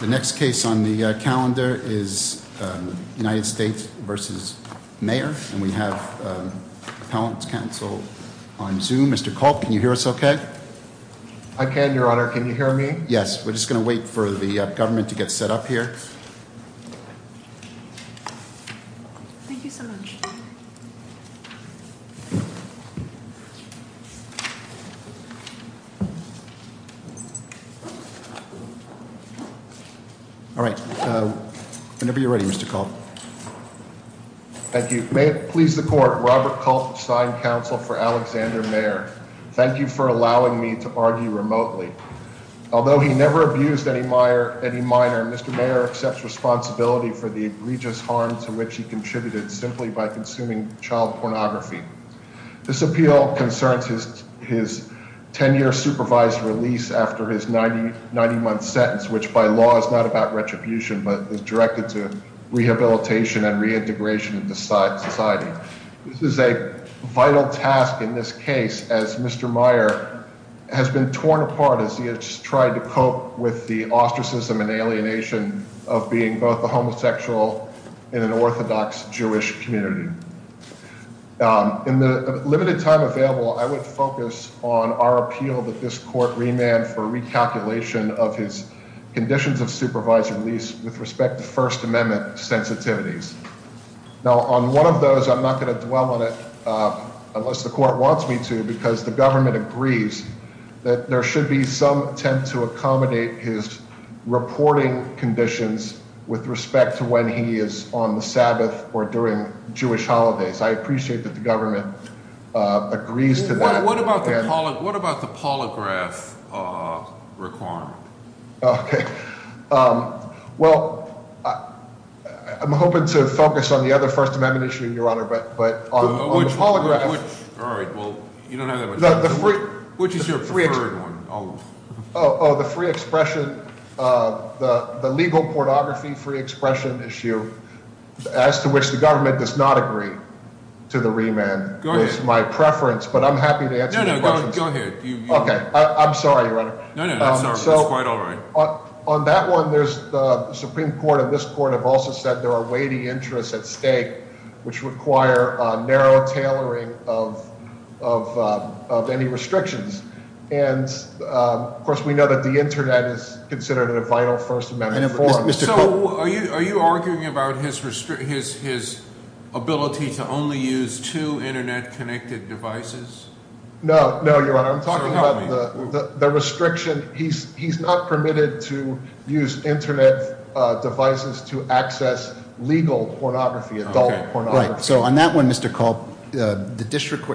The next case on the calendar is United States v. Mayer, and we have Appellant's counsel on Zoom. Mr. Culp, can you hear us okay? I can, your honor. Can you hear me? Yes. We're just gonna wait for the government to get set up here. Thank you so much. All right. Whenever you're ready, Mr. Culp. Thank you. May it please the court. Robert Culp, assigned counsel for Alexander Mayer. Thank you for allowing me to argue remotely. Although he never abused any minor, Mr. Mayer accepts responsibility for the egregious harm to which he contributed simply by consuming child pornography. This appeal concerns his 10-year supervised release after his 90-month sentence, which by law is not about retribution, but is directed to rehabilitation and reintegration into society. This is a vital task in this case, as Mr. Mayer has been torn apart as he has tried to cope with the ostracism and alienation of being both a homosexual and an orthodox Jewish community. In the limited time available, I would focus on our appeal that this court remand for recalculation of his conditions of supervised release with respect to First Amendment sensitivities. Now, on one of those, I'm not going to dwell on it unless the court wants me to, because the government agrees that there should be some attempt to accommodate his reporting conditions with respect to when he is on the Sabbath or during Jewish holidays. I appreciate that the government agrees to that. What about the polygraph requirement? Well, I'm hoping to focus on the other First Amendment issue, Your Honor, but on the polygraph... All right, well, you don't have that much time. Which is your preferred one? Oh, the free expression, the legal pornography free expression issue, as to which the government does not agree to the remand is my preference, but I'm happy to answer your questions. No, no, go ahead. Okay, I'm sorry, Your Honor. No, no, that's all right. On that one, the Supreme Court and this court have also said there are weighty interests at stake which require narrow tailoring of any restrictions. And, of course, we know that the Internet is considered a vital First Amendment form. So are you arguing about his ability to only use two Internet-connected devices? No, no, Your Honor. I'm talking about the restriction. He's not permitted to use Internet devices to access legal pornography, adult pornography. Right, so on that one, Mr. Kolb,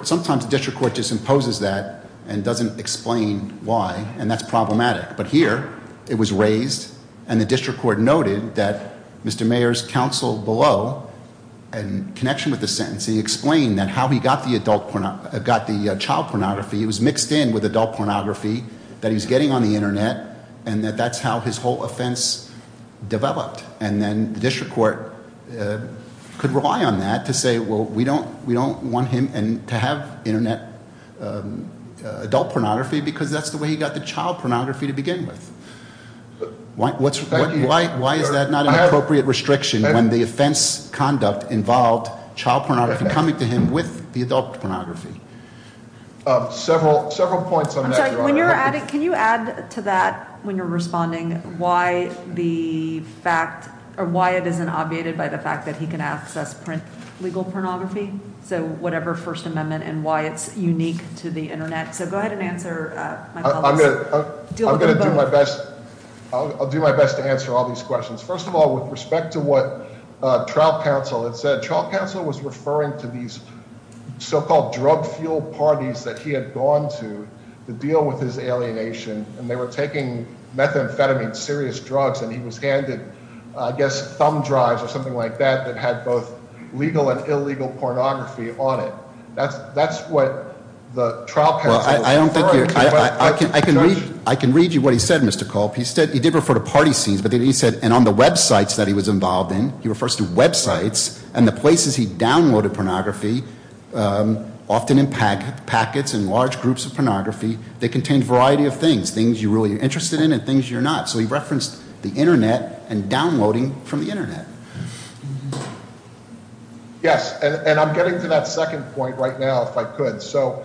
sometimes the district court just imposes that and doesn't explain why, and that's problematic. But here, it was raised, and the district court noted that Mr. Mayer's counsel below, in connection with the sentence, he explained that how he got the child pornography, it was mixed in with adult pornography that he was getting on the Internet, and that that's how his whole offense developed. And then the district court could rely on that to say, well, we don't want him to have Internet adult pornography because that's the way he got the child pornography to begin with. Why is that not an appropriate restriction when the offense conduct involved child pornography coming to him with the adult pornography? Several points on that, Your Honor. Can you add to that, when you're responding, why the fact, or why it isn't obviated by the fact that he can access legal pornography, so whatever First Amendment, and why it's unique to the Internet? So go ahead and answer. I'm going to do my best. I'll do my best to answer all these questions. First of all, with respect to what trial counsel had said, trial counsel was referring to these so-called drug-fueled parties that he had gone to to deal with his alienation, and they were taking methamphetamine, serious drugs, and he was handed, I guess, thumb drives or something like that that had both legal and illegal pornography on it. That's what the trial counsel was referring to. I can read you what he said, Mr. Kolb. He did refer to party scenes, but then he said, and on the websites that he was involved in, he refers to websites, and the places he downloaded pornography, often in packets and large groups of pornography that contained a variety of things, things you're really interested in and things you're not. So he referenced the Internet and downloading from the Internet. Yes, and I'm getting to that second point right now, if I could. So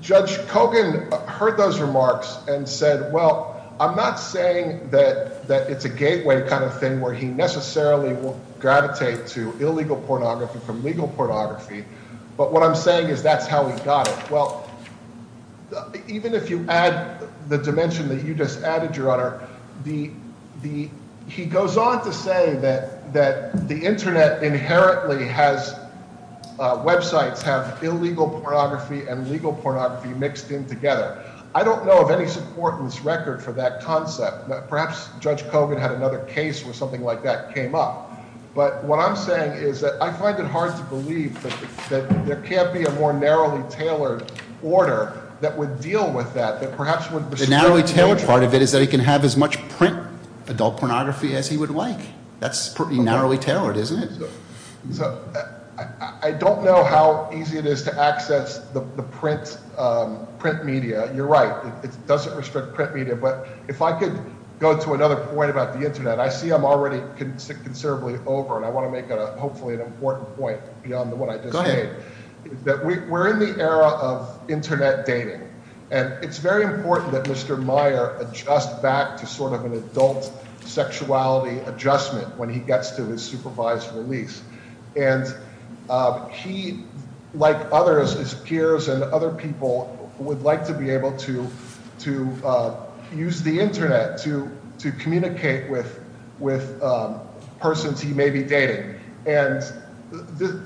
Judge Kogan heard those remarks and said, well, I'm not saying that it's a gateway kind of thing where he necessarily will gravitate to illegal pornography from legal pornography, but what I'm saying is that's how he got it. Well, even if you add the dimension that you just added, Your Honor, he goes on to say that the Internet inherently has websites have illegal pornography and legal pornography mixed in together. I don't know of any support in this record for that concept. Perhaps Judge Kogan had another case where something like that came up. But what I'm saying is that I find it hard to believe that there can't be a more narrowly tailored order that would deal with that, that perhaps would... The narrowly tailored part of it is that he can have as much print adult pornography as he would like. That's pretty narrowly tailored, isn't it? So I don't know how easy it is to access the print media. You're right, it doesn't restrict print media. But if I could go to another point about the Internet, I see I'm already considerably over and I want to make hopefully an important point beyond what I just made. Go ahead. That we're in the era of Internet dating. And it's very important that Mr. Meyer adjust back to sort of an adult sexuality adjustment when he gets to his supervised release. And he, like others, his peers and other people, would like to be able to use the Internet to communicate with persons he may be dating. And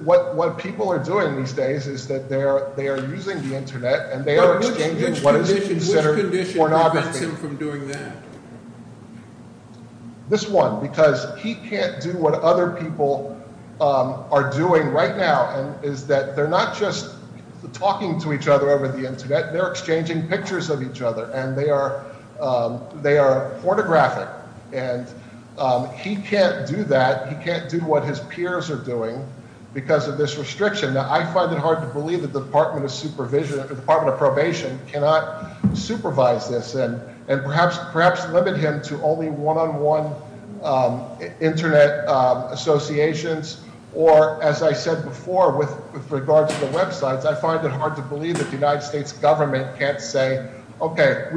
what people are doing these days is that they are using the Internet and they are exchanging what is considered pornography. Which condition prevents him from doing that? This one. Because he can't do what other people are doing right now, is that they're not just talking to each other over the Internet, they're exchanging pictures of each other and they are pornographic. And he can't do that. He can't do what his peers are doing because of this restriction. Now, I find it hard to believe that the Department of Probation cannot supervise this and perhaps limit him to only one-on-one Internet associations. Or, as I said before, with regard to the websites, I find it hard to believe that the United States government can't say, okay,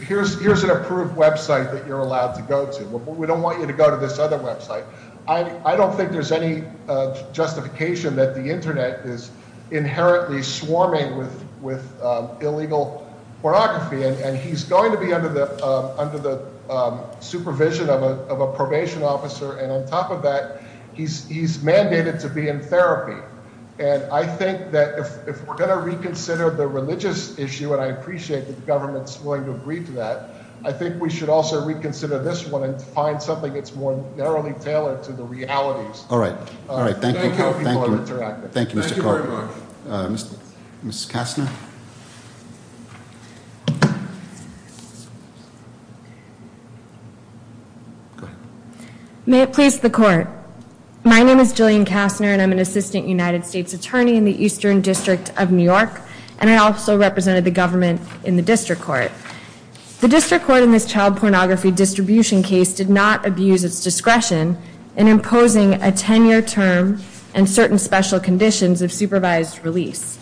here's an approved website that you're allowed to go to. We don't want you to go to this other website. I don't think there's any justification that the Internet is inherently swarming with illegal pornography. And he's going to be under the supervision of a probation officer. And on top of that, he's mandated to be in therapy. And I think that if we're going to reconsider the religious issue, and I appreciate that the government is willing to agree to that, I think we should also reconsider this one and find something that's more narrowly tailored to the realities. Thank you, Mr. Carter. Ms. Kastner? May it please the Court. My name is Jillian Kastner, and I'm an assistant United States attorney in the Eastern District of New York. And I also represented the government in the District Court. The District Court in this child pornography distribution case did not abuse its discretion in imposing a 10-year term and certain special conditions of supervised release.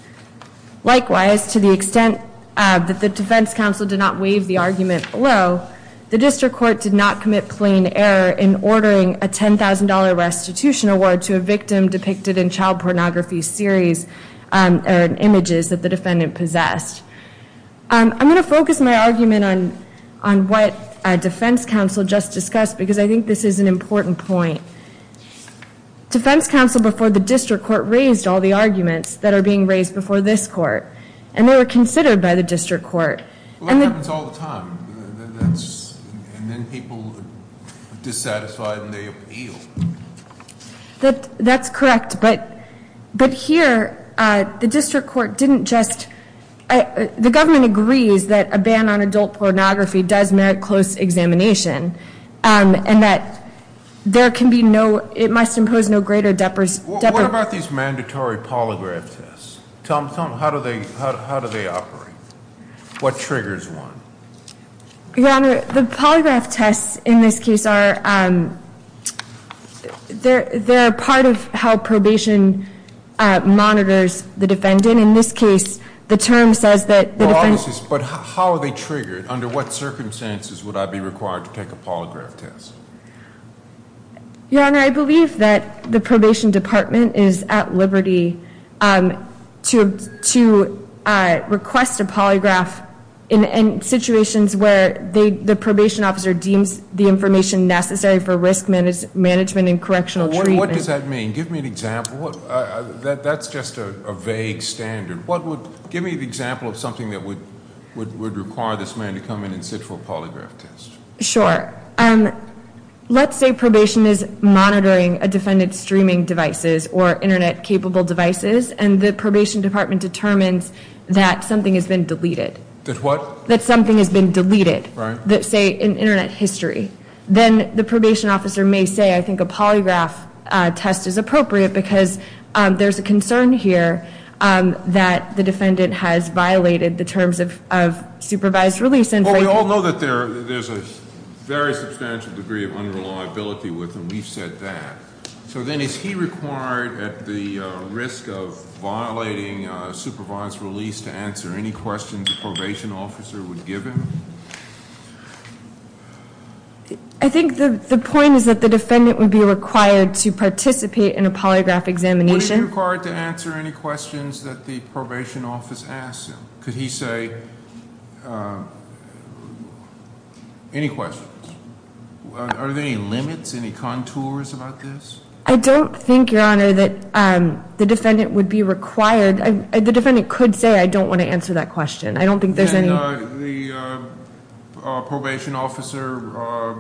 Likewise, to the extent that the defense counsel did not waive the argument below, the District Court did not commit plain error in ordering a $10,000 restitution award to a victim depicted in child pornography series or images that the defendant possessed. I'm going to focus my argument on what defense counsel just discussed, because I think this is an important point. Defense counsel before the District Court raised all the arguments that are being raised before this Court. And they were considered by the District Court. Well, that happens all the time. And then people are dissatisfied and they appeal. That's correct. But here, the District Court didn't just... The government agrees that a ban on adult pornography does merit close examination, and that there can be no... it must impose no greater... What about these mandatory polygraph tests? How do they operate? What triggers one? Your Honor, the polygraph tests in this case are... They're a part of how probation monitors the defendant. In this case, the term says that the defendant... But how are they triggered? Under what circumstances would I be required to take a polygraph test? Your Honor, I believe that the Probation Department is at liberty to request a polygraph in situations where the probation officer deems the information necessary for risk management and correctional treatment. What does that mean? Give me an example. That's just a vague standard. Give me an example of something that would require this man to come in and sit for a polygraph test. Sure. Let's say probation is monitoring a defendant's streaming devices or Internet-capable devices, and the Probation Department determines that something has been deleted. That what? That something has been deleted. Say, in Internet history. Then the probation officer may say, I think a polygraph test is appropriate because there's a concern here that the defendant has violated the terms of supervised release. Well, we all know that there's a very substantial degree of unreliability with them. We've said that. So then is he required, at the risk of violating supervised release, to answer any questions the probation officer would give him? I think the point is that the defendant would be required to participate in a polygraph examination. Would he be required to answer any questions that the probation office asks him? Could he say, any questions? Are there any limits, any contours about this? I don't think, Your Honor, that the defendant would be required. The defendant could say, I don't want to answer that question. I don't think there's any- And the probation officer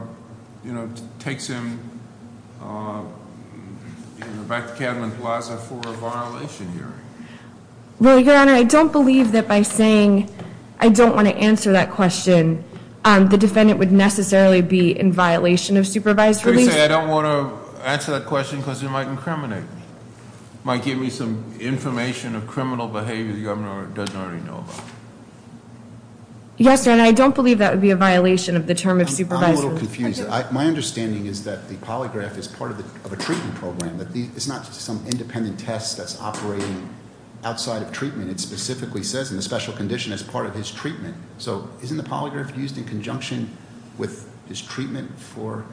takes him back to Cadman Plaza for a violation hearing. Well, Your Honor, I don't believe that by saying, I don't want to answer that question, the defendant would necessarily be in violation of supervised release. So you say, I don't want to answer that question because it might incriminate me. It might give me some information of criminal behavior the governor doesn't already know about. Yes, Your Honor, I don't believe that would be a violation of the term of supervised release. I'm a little confused. My understanding is that the polygraph is part of a treatment program. It's not some independent test that's operating outside of treatment. It specifically says, in a special condition, it's part of his treatment. So isn't the polygraph used in conjunction with his treatment for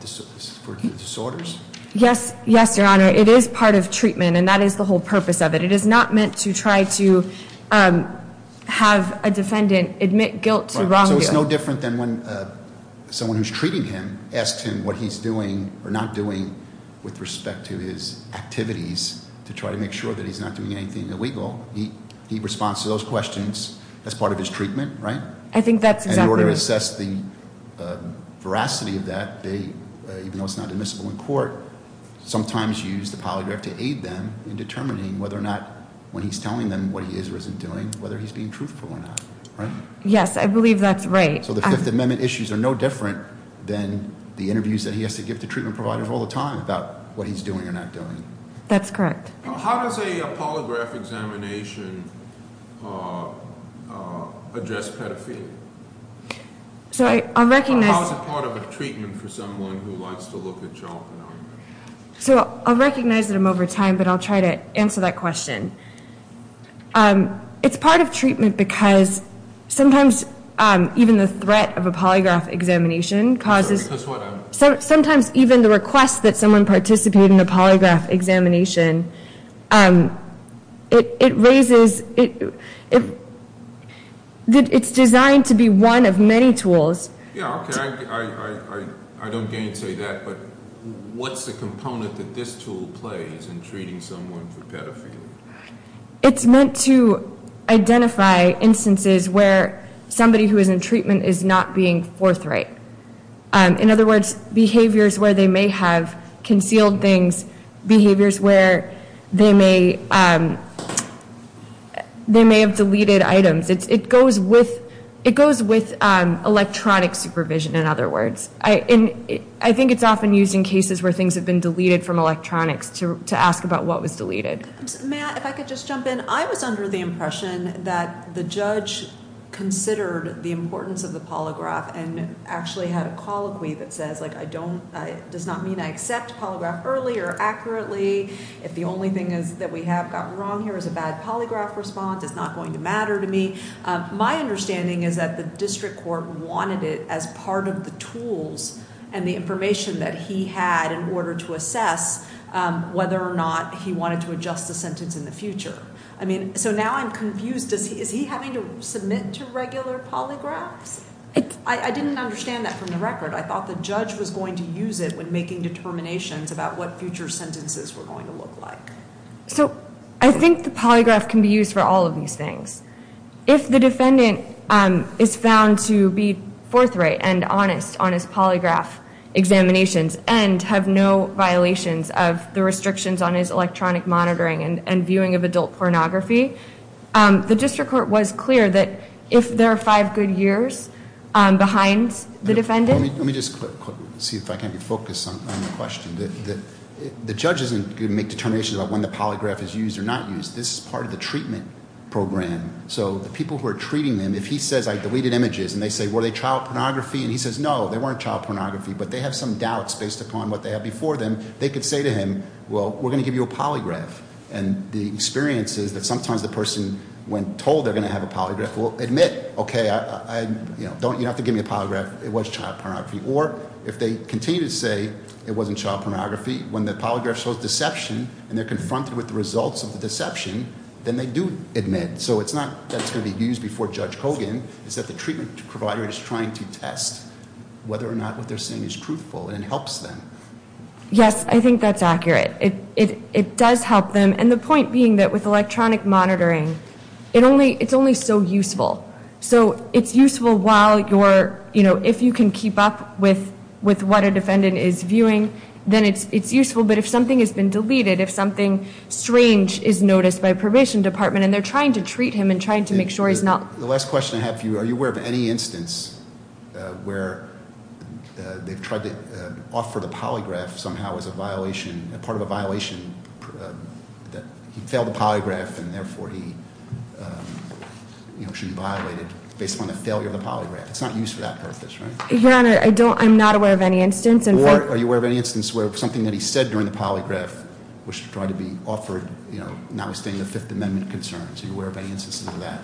disorders? Yes, Your Honor, it is part of treatment, and that is the whole purpose of it. It is not meant to try to have a defendant admit guilt to wrongdoing. So it's no different than when someone who's treating him asks him what he's doing or not doing with respect to his activities to try to make sure that he's not doing anything illegal. He responds to those questions as part of his treatment, right? And in order to assess the veracity of that, even though it's not admissible in court, sometimes you use the polygraph to aid them in determining whether or not, when he's telling them what he is or isn't doing, whether he's being truthful or not. Right? Yes, I believe that's right. So the Fifth Amendment issues are no different than the interviews that he has to give to treatment providers all the time about what he's doing or not doing. That's correct. How does a polygraph examination address pedophilia? Sorry, I'll recognize- Or how is it part of a treatment for someone who likes to look at child phenomena? So I'll recognize that I'm over time, but I'll try to answer that question. It's part of treatment because sometimes even the threat of a polygraph examination causes- That's what I'm- Sometimes even the request that someone participate in a polygraph examination, it raises- It's designed to be one of many tools. Yeah, okay. I don't mean to say that, but what's the component that this tool plays in treating someone for pedophilia? It's meant to identify instances where somebody who is in treatment is not being forthright. In other words, behaviors where they may have concealed things, behaviors where they may have deleted items. It goes with electronic supervision, in other words. I think it's often used in cases where things have been deleted from electronics to ask about what was deleted. Matt, if I could just jump in. I was under the impression that the judge considered the importance of the polygraph and actually had a colloquy that says, like, I don't- It does not mean I accept polygraph early or accurately. If the only thing that we have gotten wrong here is a bad polygraph response, it's not going to matter to me. My understanding is that the district court wanted it as part of the tools and the information that he had in order to assess whether or not he wanted to adjust the sentence in the future. I mean, so now I'm confused. Is he having to submit to regular polygraphs? I didn't understand that from the record. I thought the judge was going to use it when making determinations about what future sentences were going to look like. So, I think the polygraph can be used for all of these things. If the defendant is found to be forthright and honest on his polygraph examinations and have no violations of the restrictions on his electronic monitoring and viewing of adult pornography, the district court was clear that if there are five good years behind the defendant- Let me just see if I can focus on the question. The judge isn't going to make determinations about when the polygraph is used or not used. This is part of the treatment program. So, the people who are treating them, if he says, I deleted images, and they say, were they child pornography? And he says, no, they weren't child pornography, but they have some doubts based upon what they had before them. They could say to him, well, we're going to give you a polygraph. And the experience is that sometimes the person, when told they're going to have a polygraph, will admit, okay, you don't have to give me a polygraph, it was child pornography. Or if they continue to say it wasn't child pornography, when the polygraph shows deception and they're confronted with the results of the deception, then they do admit. So, it's not that it's going to be used before Judge Kogan. It's that the treatment provider is trying to test whether or not what they're saying is truthful and helps them. Yes, I think that's accurate. It does help them. And the point being that with electronic monitoring, it's only so useful. So, it's useful while you're- If you can keep up with what a defendant is viewing, then it's useful. But if something has been deleted, if something strange is noticed by a probation department and they're trying to treat him and trying to make sure he's not- The last question I have for you, are you aware of any instance where they've tried to offer the polygraph somehow as a violation, a part of a violation that he failed the polygraph and therefore he should be violated based on the failure of the polygraph? It's not used for that purpose, right? Your Honor, I'm not aware of any instance. Or are you aware of any instance where something that he said during the polygraph was trying to be offered, you know, notwithstanding the Fifth Amendment concerns? Are you aware of any instances of that?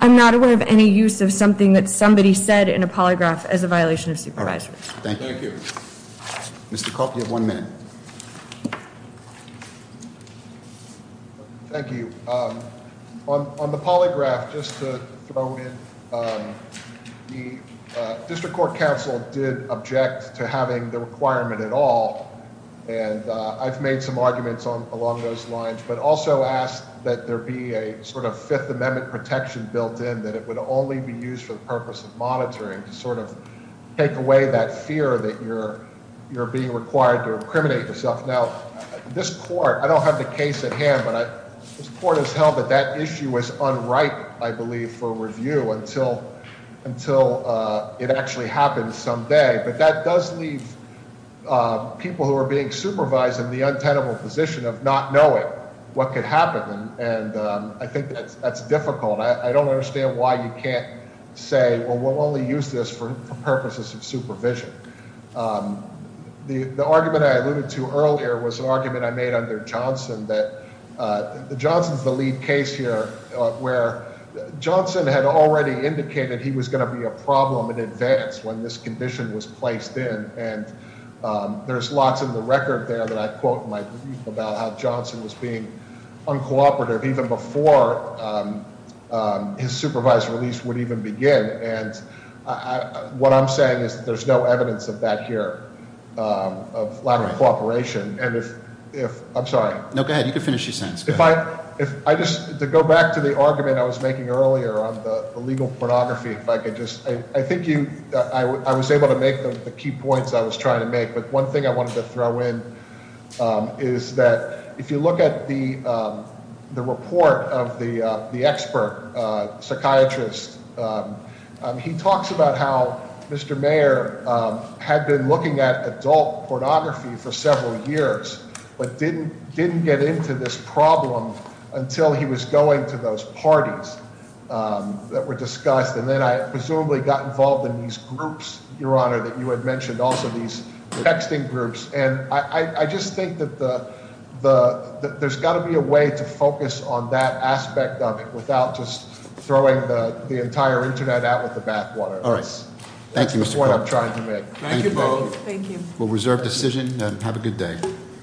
I'm not aware of any use of something that somebody said in a polygraph as a violation of supervisory. Thank you. Thank you. Mr. Kopp, you have one minute. Thank you. On the polygraph, just to throw in, the District Court Counsel did object to having the requirement at all. And I've made some arguments along those lines, but also asked that there be a sort of Fifth Amendment protection built in, that it would only be used for the purpose of monitoring to sort of take away that fear that you're being required to incriminate yourself. Now, this court, I don't have the case at hand, but this court has held that that issue is unripe, I believe, for review until it actually happens someday. But that does leave people who are being supervised in the untenable position of not knowing what could happen. And I think that's difficult. I don't understand why you can't say, well, we'll only use this for purposes of supervision. The argument I alluded to earlier was an argument I made under Johnson that Johnson's the lead case here, where Johnson had already indicated he was going to be a problem in advance when this condition was placed in. And there's lots in the record there that I quote about how Johnson was being uncooperative even before his supervised release would even begin. And what I'm saying is that there's no evidence of that here, of lack of cooperation. And if, I'm sorry. No, go ahead. You can finish your sentence. If I just, to go back to the argument I was making earlier on the legal pornography, if I could just. I think I was able to make the key points I was trying to make, but one thing I wanted to throw in is that if you look at the report of the expert psychiatrist, he talks about how Mr. Mayer had been looking at adult pornography for several years, but didn't get into this problem until he was going to those parties that were discussed. And then I presumably got involved in these groups, Your Honor, that you had mentioned, also these texting groups. And I just think that there's got to be a way to focus on that aspect of it without just throwing the entire Internet out with the bathwater. That's the point I'm trying to make. Thank you, Bo. Thank you. We'll reserve decision and have a good day.